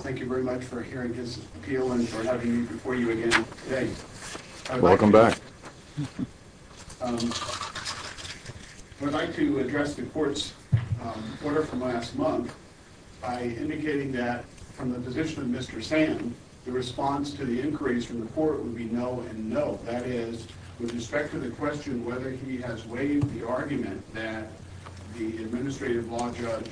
Thank you very much for hearing this appeal and for having me before you again today. I would like to address the court's order from last month by indicating that from the position of Mr. Sand, the response to the inquiries from the court would be no and no. That is, with respect to the question whether he has waived the argument that the administrative law judge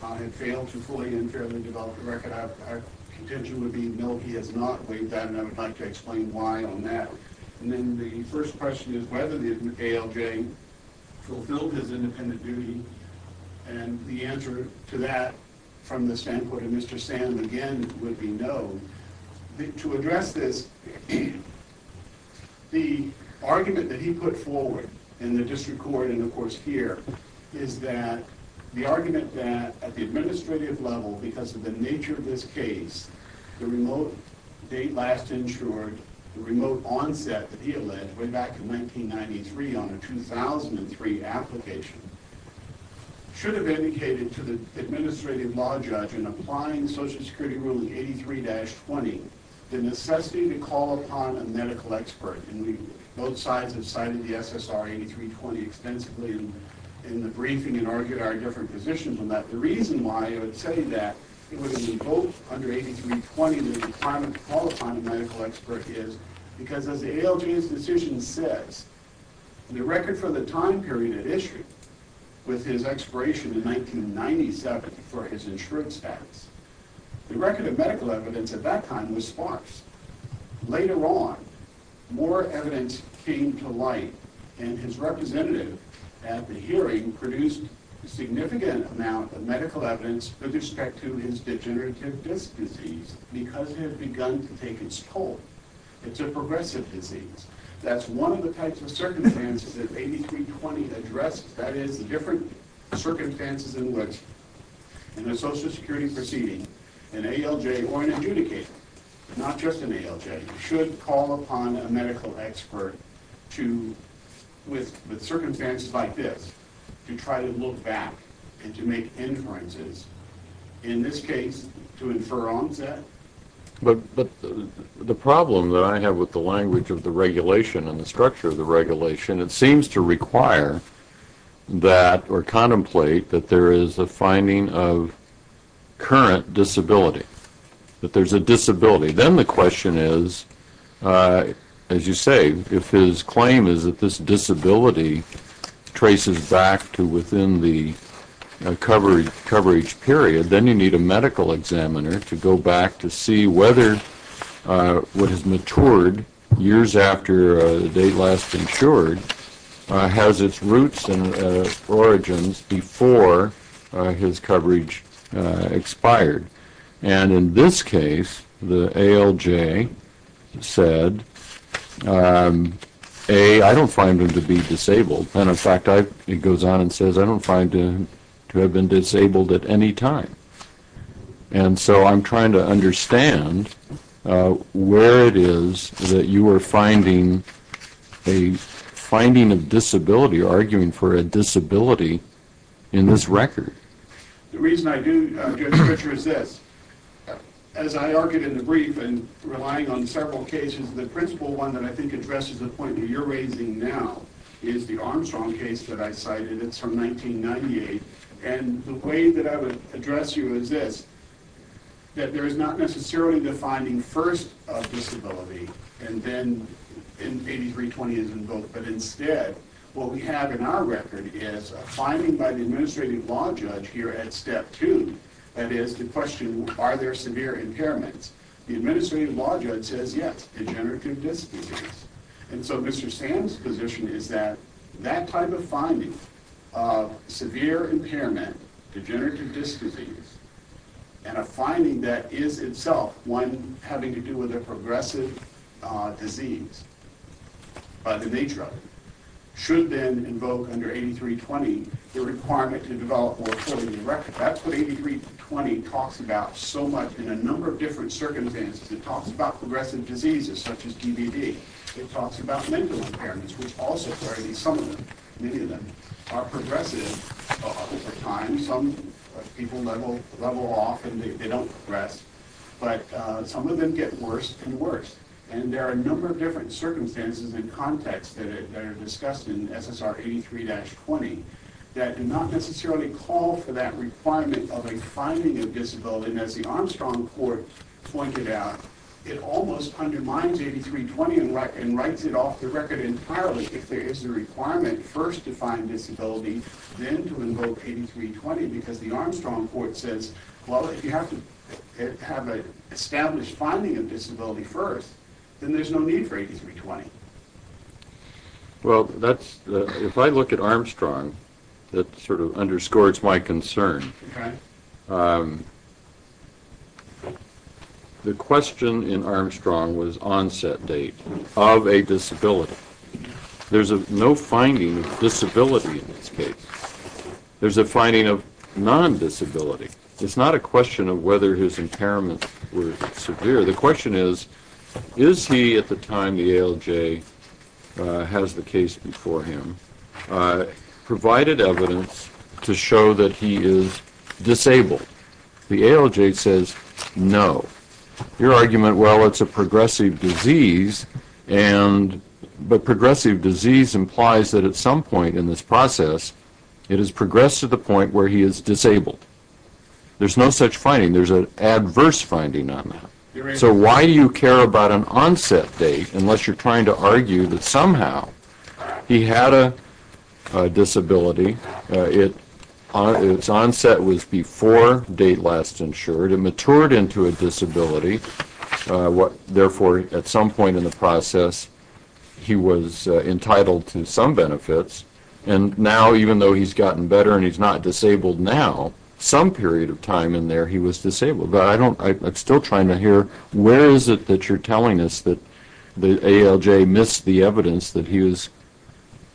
had failed to fully and fairly develop the record, our contention would be no, he has not waived that and I would like to explain why on that. And then the first question is whether the ALJ fulfilled his independent duty and the answer to that from the standpoint of Mr. Sand again would be no. To address this, the argument that he put forward in the district court and of course here is that the argument that at the administrative level because of the nature of this case, the remote date last insured, the remote onset that he alleged way back in 1993 on a 2003 application, should have indicated to the administrative law judge in applying Social Security Rule 83-20 the necessity to call upon a medical expert and both sides have cited the SSR 83-20 extensively in the briefing and argued our different positions on that. The reason why I would say that it would invoke under 83-20 the requirement to call upon a medical expert is because as the ALJ's decision says, the record for the time period it issued with his expiration in 1997 for his insurance status, the record of medical evidence at that time was sparse. Later on, more evidence came to light and his representative at the hearing produced a significant amount of medical evidence with respect to his degenerative disc disease because it had begun to take its toll. It's a progressive disease. That's one of the types of circumstances that 83-20 addressed. That is, the different circumstances in which in a Social Security proceeding, an ALJ or an adjudicator, not just an ALJ, should call upon a medical expert with circumstances like this to try to look back and to make inferences. In this case, to infer onset. But the problem that I have with the language of the regulation and the structure of the regulation, it seems to require that or contemplate that there is a finding of current disability, that there's a disability. Then the question is, as you say, if his claim is that this disability traces back to within the coverage period, then you need a medical examiner to go back to see whether what has matured years after the date last insured has its roots and origins before his coverage expired. And in this case, the ALJ said, A, I don't find him to be disabled. And in fact, it goes on and says, I don't find him to have been disabled at any time. And so I'm trying to understand where it is that you are finding a finding of disability or arguing for a disability in this record. The reason I do get richer is this. As I argued in the brief and relying on several cases, the principal one that I think addresses the point that you're raising now is the Armstrong case that I cited. It's from 1998. And the way that I would address you is this, that there is not necessarily the finding first of disability and then in 8320 as invoked. But instead, what we have in our record is a finding by the administrative law judge here at step two, that is, the question, are there severe impairments? The administrative law judge says yes, degenerative disc disease. And so Mr. Sam's position is that that type of finding of severe impairment, degenerative disc disease, and a finding that is itself one having to do with a progressive disease by the nature of it, should then invoke under 8320 the requirement to develop more children in the record. And that's what 8320 talks about so much in a number of different circumstances. It talks about progressive diseases such as DBD. It talks about mental impairments, which also clearly some of them, many of them, are progressive. Some people level off and they don't progress. But some of them get worse and worse. And there are a number of different circumstances and contexts that are discussed in SSR 83-20 that do not necessarily call for that requirement of a finding of disability. And as the Armstrong Court pointed out, it almost undermines 8320 and writes it off the record entirely if there is a requirement first to find disability, then to invoke 8320 because the Armstrong Court says, well, if you have to have an established finding of disability first, then there's no need for 8320. Well, if I look at Armstrong, that sort of underscores my concern. The question in Armstrong was onset date of a disability. There's no finding of disability in this case. There's a finding of non-disability. It's not a question of whether his impairments were severe. The question is, is he, at the time the ALJ has the case before him, provided evidence to show that he is disabled? The ALJ says no. Your argument, well, it's a progressive disease, but progressive disease implies that at some point in this process, it has progressed to the point where he is disabled. There's no such finding. There's an adverse finding on that. So why do you care about an onset date unless you're trying to argue that somehow he had a disability. Its onset was before date last insured. It matured into a disability. Therefore, at some point in the process, he was entitled to some benefits. And now, even though he's gotten better and he's not disabled now, some period of time in there, he was disabled. But I don't, I'm still trying to hear where is it that you're telling us that the ALJ missed the evidence that he was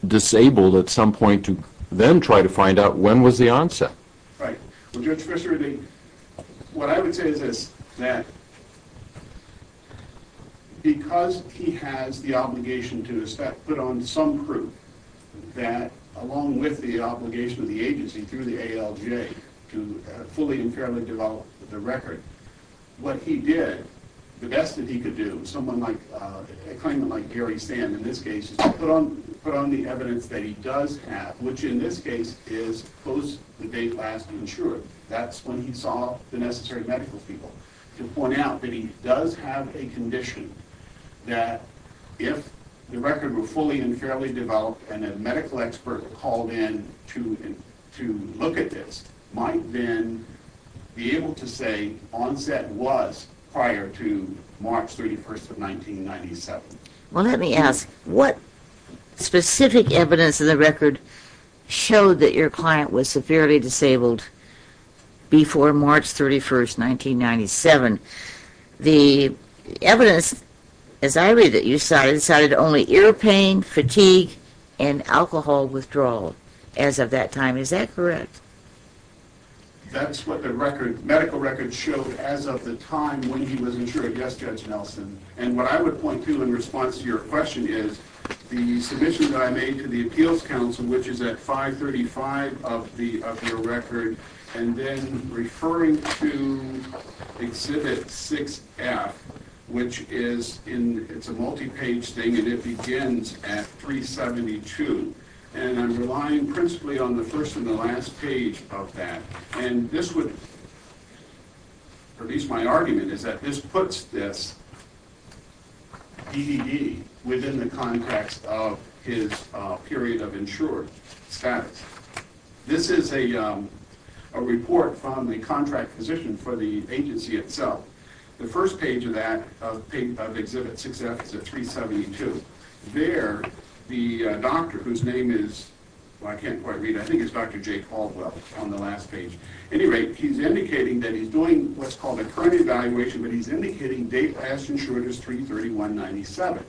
disabled at some point to then try to find out when was the onset. Right. Well, Judge Christopher, what I would say is this, that because he has the obligation to put on some proof that along with the obligation of the agency through the ALJ to fully and fairly develop the record, what he did, the best that he could do, someone like, a claimant like Gary Sand, in this case, is to put on the evidence that he does have, which in this case is post the date of his onset. That's when he saw the necessary medical people to point out that he does have a condition that if the record were fully and fairly developed and a medical expert called in to look at this, might then be able to say onset was prior to March 31st of 1997. Well, let me ask, what specific evidence in the record showed that your client was severely disabled before March 31st, 1997? The evidence, as I read it, you cited only ear pain, fatigue, and alcohol withdrawal as of that time. Is that correct? That's what the medical record showed as of the time when he was insured, yes, Judge Nelson. And what I would point to in response to your question is the submission that I made to the Appeals Council, which is at 535 of your record, and then referring to Exhibit 6F, which is a multi-page thing and it begins at 372. And I'm relying principally on the first and the last page of that. And this would, or at least my argument is that this puts this EDD within the context of his period of insured status. This is a report from the contract position for the agency itself. The first page of that, of Exhibit 6F, is at 372. There, the doctor, whose name is, well I can't quite read, I think it's Dr. Jake Haldwell on the last page. At any rate, he's indicating that he's doing what's called a current evaluation, but he's indicating day-past-insured is 331.97.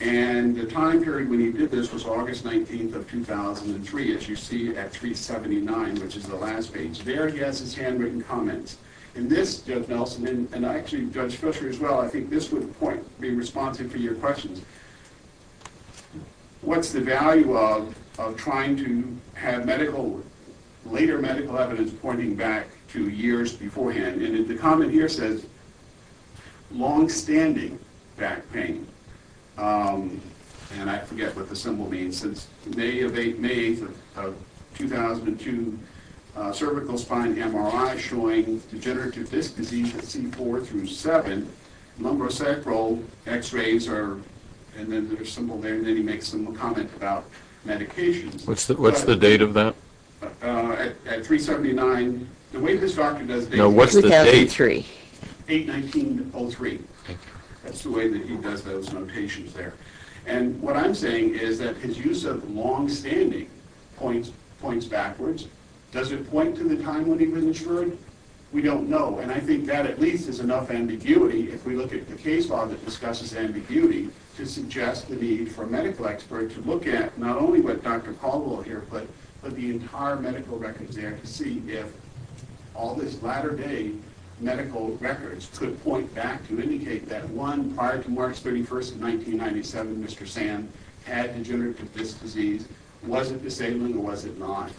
And the time period when he did this was August 19th of 2003, as you see at 379, which is the last page. There, he has his handwritten comments. And this, Judge Nelson, and actually Judge Fisher as well, I think this would be responsive to your questions. What's the value of trying to have medical, later medical evidence pointing back to years beforehand? And the comment here says, long-standing back pain. And I forget what the symbol means. Since May of 2002, cervical spine MRI showing degenerative disc disease at C4 through 7. Number of sacral x-rays are, and then there's a symbol there, and then he makes a comment about medications. What's the date of that? At 379, the way this doctor does... No, what's the date? 2003. 8-19-03. That's the way that he does those notations there. And what I'm saying is that his use of long-standing points backwards. Does it point to the time when he was insured? We don't know. And I think that at least is enough ambiguity, if we look at the case law that discusses ambiguity, to suggest the need for a medical expert to look at not only what Dr. Caldwell here put, but the entire medical records there to see if all this latter-day medical records could point back to indicate that one prior to March 31st of 1997, Mr. Sand had degenerative disc disease. Was it disabling or was it not?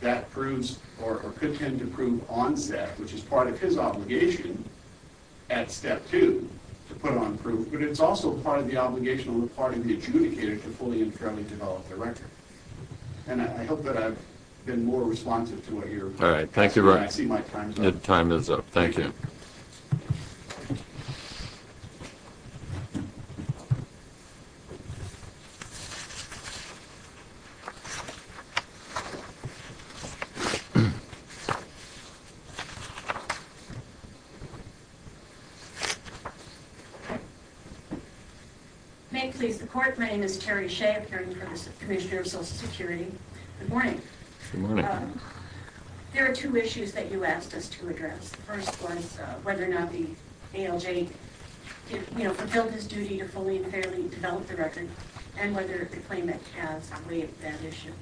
That proves, or could tend to prove on set, which is part of his obligation at Step 2 to put on proof, but it's also part of the obligation on the part of the adjudicator to fully and fairly develop the record. And I hope that I've been more responsive to what you're... All right, thank you. I see my time's up. Time is up. Thank you. May it please the Court, my name is Terry Shea, appearing for the Commissioner of Social Security. Good morning. Good morning. There are two issues that you asked us to address. The first was whether or not the ALJ fulfilled his duty to fully and fairly develop the record, and whether the claimant has waived that issue.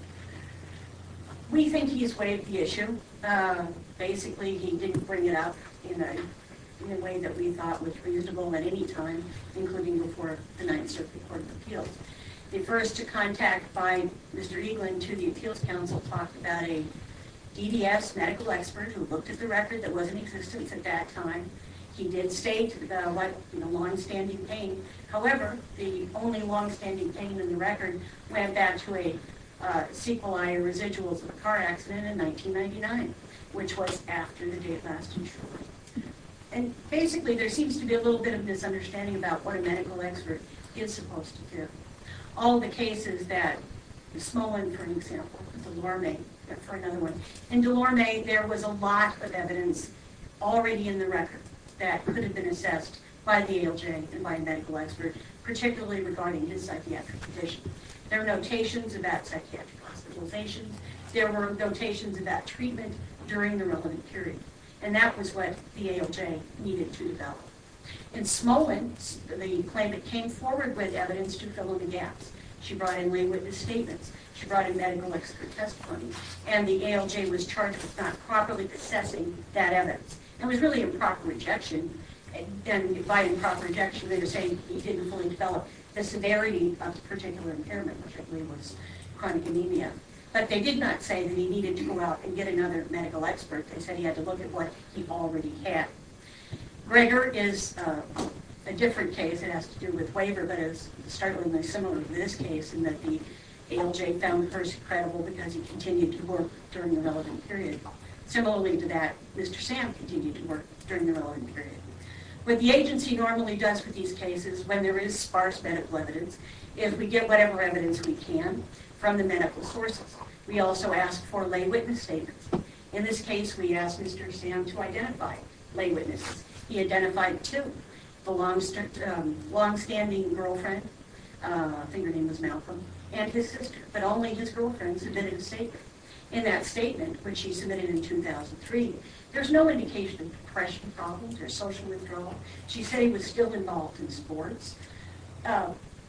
We think he's waived the issue. Basically, he didn't bring it up in a way that we thought was reasonable at any time, including before the Ninth Circuit Court of Appeals. The first contact by Mr. Eaglin to the Appeals Council talked about a DDS medical expert who looked at the record that was in existence at that time. He did state the long-standing pain. All the cases that Smolin, for example, Delorme, for another one. In Delorme, there was a lot of evidence already in the record that could have been assessed by the ALJ and by a medical expert, particularly regarding his psychiatric condition. There were notations about psychiatric hospitalizations. There were notations about treatment during the relevant period. And that was what the ALJ needed to develop. In Smolin, the claimant came forward with evidence to fill in the gaps. She brought in lay witness statements. She brought in medical expert testimony. And the ALJ was charged with not properly assessing that evidence. It was really improper rejection. And by improper rejection, they were saying he didn't fully develop the severity of the particular impairment, which I believe was chronic anemia. But they did not say that he needed to go out and get another medical expert. They said he had to look at what he already had. Greger is a different case. It has to do with waiver. But it was startlingly similar to this case in that the ALJ found Hersey credible because he continued to work during the relevant period. Similarly to that, Mr. Sam continued to work during the relevant period. What the agency normally does with these cases, when there is sparse medical evidence, is we get whatever evidence we can from the medical sources. We also ask for lay witness statements. In this case, we asked Mr. Sam to identify lay witnesses. He identified two. The long-standing girlfriend, I think her name was Malcolm, and his sister. But only his girlfriend submitted a statement. In that statement, which she submitted in 2003, there's no indication of depression problems or social withdrawal. She said he was still involved in sports.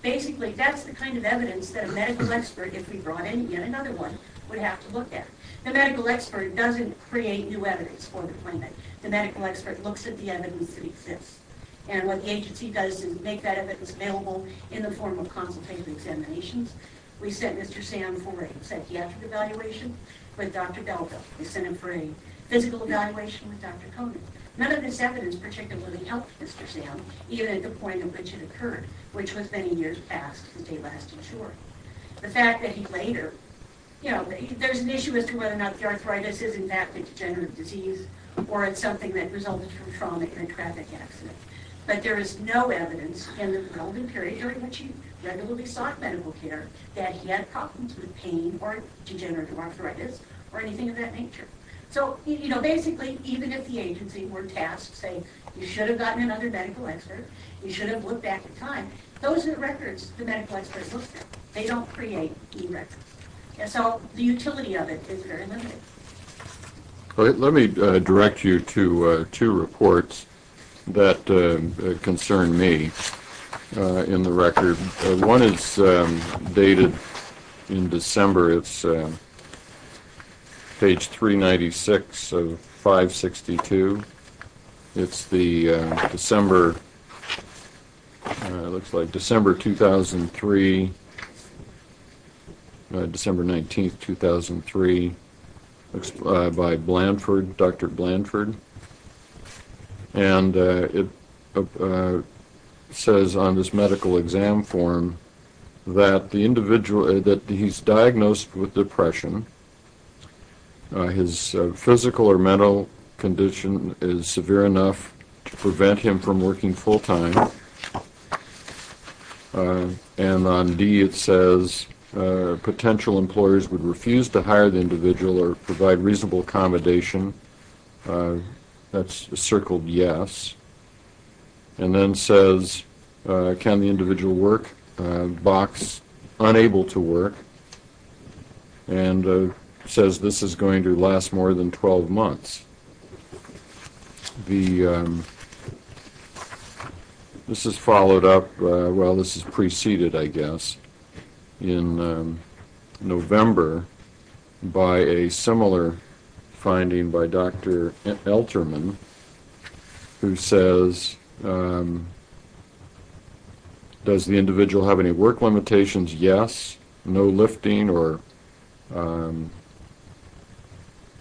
Basically, that's the kind of evidence that a medical expert, if we brought in yet another one, would have to look at. The medical expert doesn't create new evidence for the claimant. The medical expert looks at the evidence that exists. And what the agency does is make that evidence available in the form of consultative examinations. We sent Mr. Sam for a psychiatric evaluation with Dr. Belka. We sent him for a physical evaluation with Dr. Conant. None of this evidence particularly helped Mr. Sam, even at the point at which it occurred, which was many years past. The fact that he later, you know, there's an issue as to whether or not the arthritis is in fact a degenerative disease or it's something that resulted from trauma in a traffic accident. But there is no evidence in the period during which he regularly sought medical care that he had problems with pain or degenerative arthritis or anything of that nature. So, you know, basically, even if the agency were tasked, say, you should have gotten another medical expert, you should have looked back in time, those are records the medical expert looks at. They don't create e-records. And so the utility of it is very limited. Let me direct you to two reports that concern me in the record. One is dated in December. It's page 396 of 562. It's the December, looks like December 2003, December 19th, 2003, by Blanford, Dr. Blanford. And it says on this medical exam form that the individual, that he's diagnosed with depression. His physical or mental condition is severe enough to prevent him from working full time. And on D, it says potential employers would refuse to hire the individual or provide reasonable accommodation. That's circled yes. And then says, can the individual work? Box, unable to work. And says this is going to last more than 12 months. The, this is followed up, well, this is preceded, I guess, in November by a similar finding by Dr. Elterman, who says, does the individual have any work limitations? Yes. No lifting or, I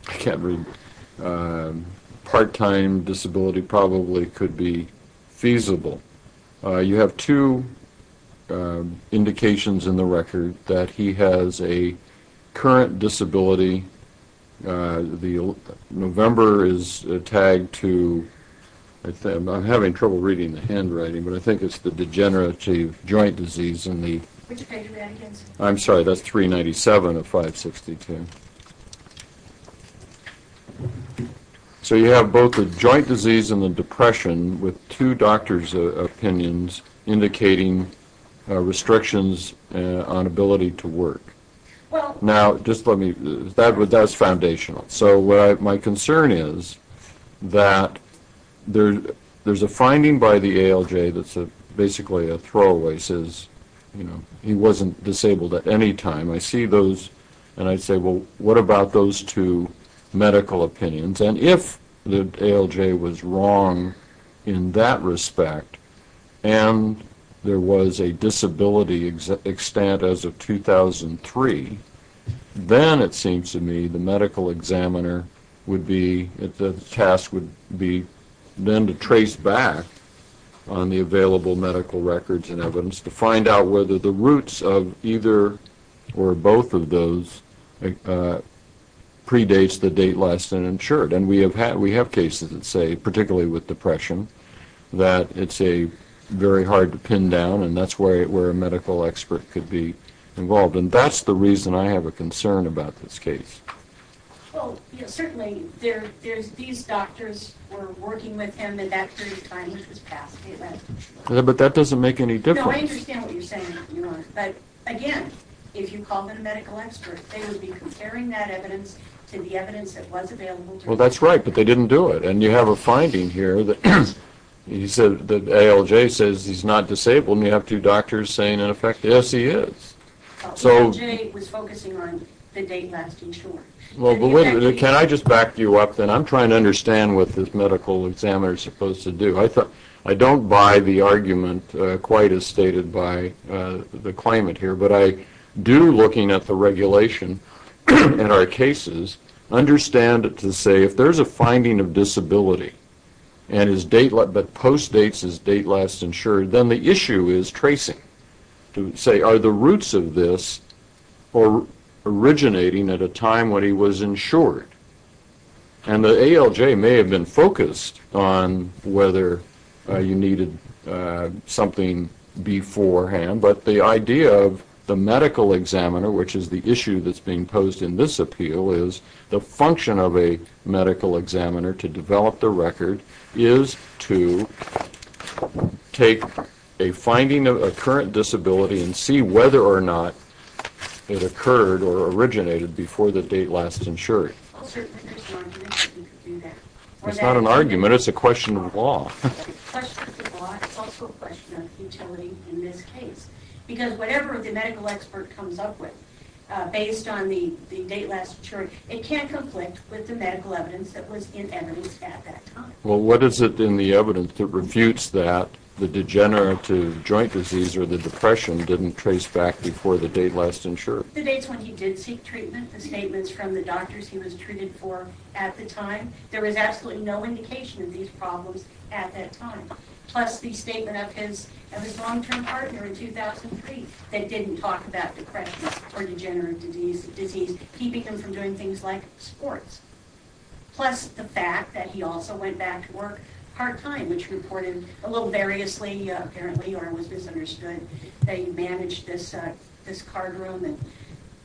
can't read, part-time disability probably could be feasible. You have two indications in the record that he has a current disability. The November is tagged to, I'm having trouble reading the handwriting, but I think it's the degenerative joint disease in the, I'm sorry, that's 397 of 562. So you have both the joint disease and the depression with two doctor's opinions indicating restrictions on ability to work. Now, just let me, that's foundational. So my concern is that there's a finding by the ALJ that's basically a throwaway, says, you know, he wasn't disabled at any time. I see those, and I say, well, what about those two medical opinions? And if the ALJ was wrong in that respect and there was a disability extent as of 2003, then it seems to me the medical examiner would be, the task would be then to trace back on the available medical records and evidence to find out whether the roots of either or both of those predates the date last uninsured. And we have cases that say, particularly with depression, that it's a very hard to pin down, and that's where a medical expert could be involved. And that's the reason I have a concern about this case. Well, you know, certainly there's, these doctors were working with him, and that period of time he was passed. But that doesn't make any difference. No, I understand what you're saying, but again, if you call them a medical expert, they would be comparing that evidence to the evidence that was available to them. Well, that's right, but they didn't do it. And you have a finding here that he said, that ALJ says he's not disabled, and you have two doctors saying, in effect, yes, he is. ALJ was focusing on the date last insured. Can I just back you up, then? I'm trying to understand what this medical examiner is supposed to do. I don't buy the argument quite as stated by the claimant here, but I do, looking at the regulation in our cases, understand it to say, if there's a finding of disability, but postdates his date last insured, then the issue is tracing, to say, are the roots of this originating at a time when he was insured? And the ALJ may have been focused on whether you needed something beforehand, but the idea of the medical examiner, which is the issue that's being posed in this appeal, is the function of a medical examiner to develop the record is to take a finding of a current disability and see whether or not it occurred or originated before the date last insured. Well, certainly there's an argument that you could do that. It's not an argument. It's a question of law. It's a question of law. It's also a question of utility in this case. Because whatever the medical expert comes up with, based on the date last insured, it can't conflict with the medical evidence that was in evidence at that time. Well, what is it in the evidence that refutes that the degenerative joint disease or the depression didn't trace back before the date last insured? The dates when he did seek treatment, the statements from the doctors he was treated for at the time, there was absolutely no indication of these problems at that time. Plus the statement of his long-term partner in 2003 that didn't talk about depression or degenerative disease, keeping him from doing things like sports. Plus the fact that he also went back to work part-time, which reported a little variously, apparently, or was misunderstood, that he managed this card room.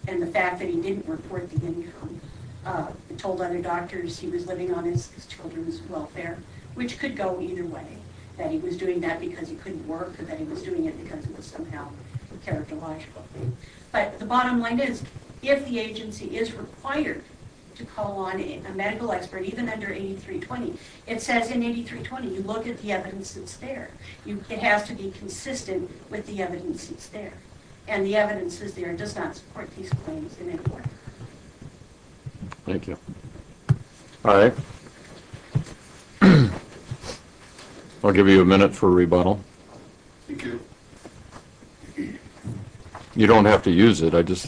And the fact that he didn't report the income told other doctors he was living on his children's welfare, which could go either way, that he was doing that because he couldn't work or that he was doing it because it was somehow characterological. But the bottom line is, if the agency is required to call on a medical expert, even under 8320, it says in 8320 you look at the evidence that's there. It has to be consistent with the evidence that's there. And the evidence that's there does not support these claims in any way. Thank you. All right. I'll give you a minute for a rebuttal. Thank you. You don't have to use it, I just...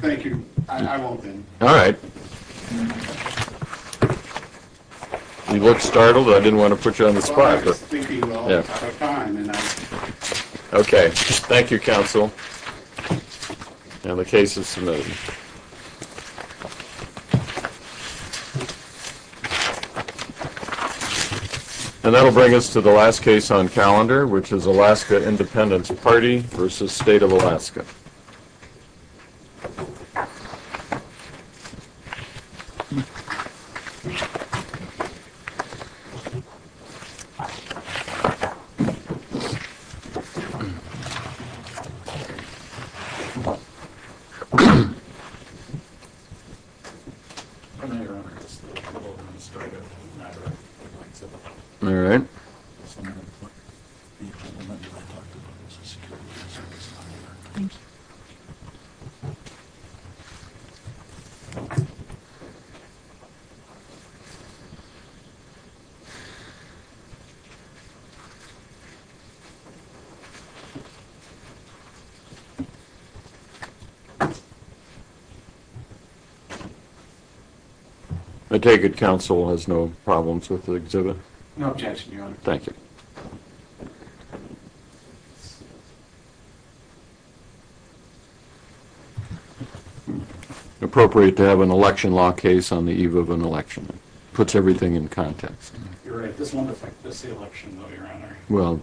Thank you. I won't then. All right. You look startled. I didn't want to put you on the spot. I was thinking about the time and I... Okay. Thank you, Counsel. And the case is submitted. Thank you. And that will bring us to the last case on calendar, which is Alaska Independence Party v. State of Alaska. Thank you. Thank you. Thank you. Thank you. All right. Thank you. I take it Counsel has no problems with the exhibit? No objection, Your Honor. Thank you. Appropriate to have an election law case on the eve of an election. Puts everything in context. You're right. This won't affect this election though, Your Honor. Well, okay.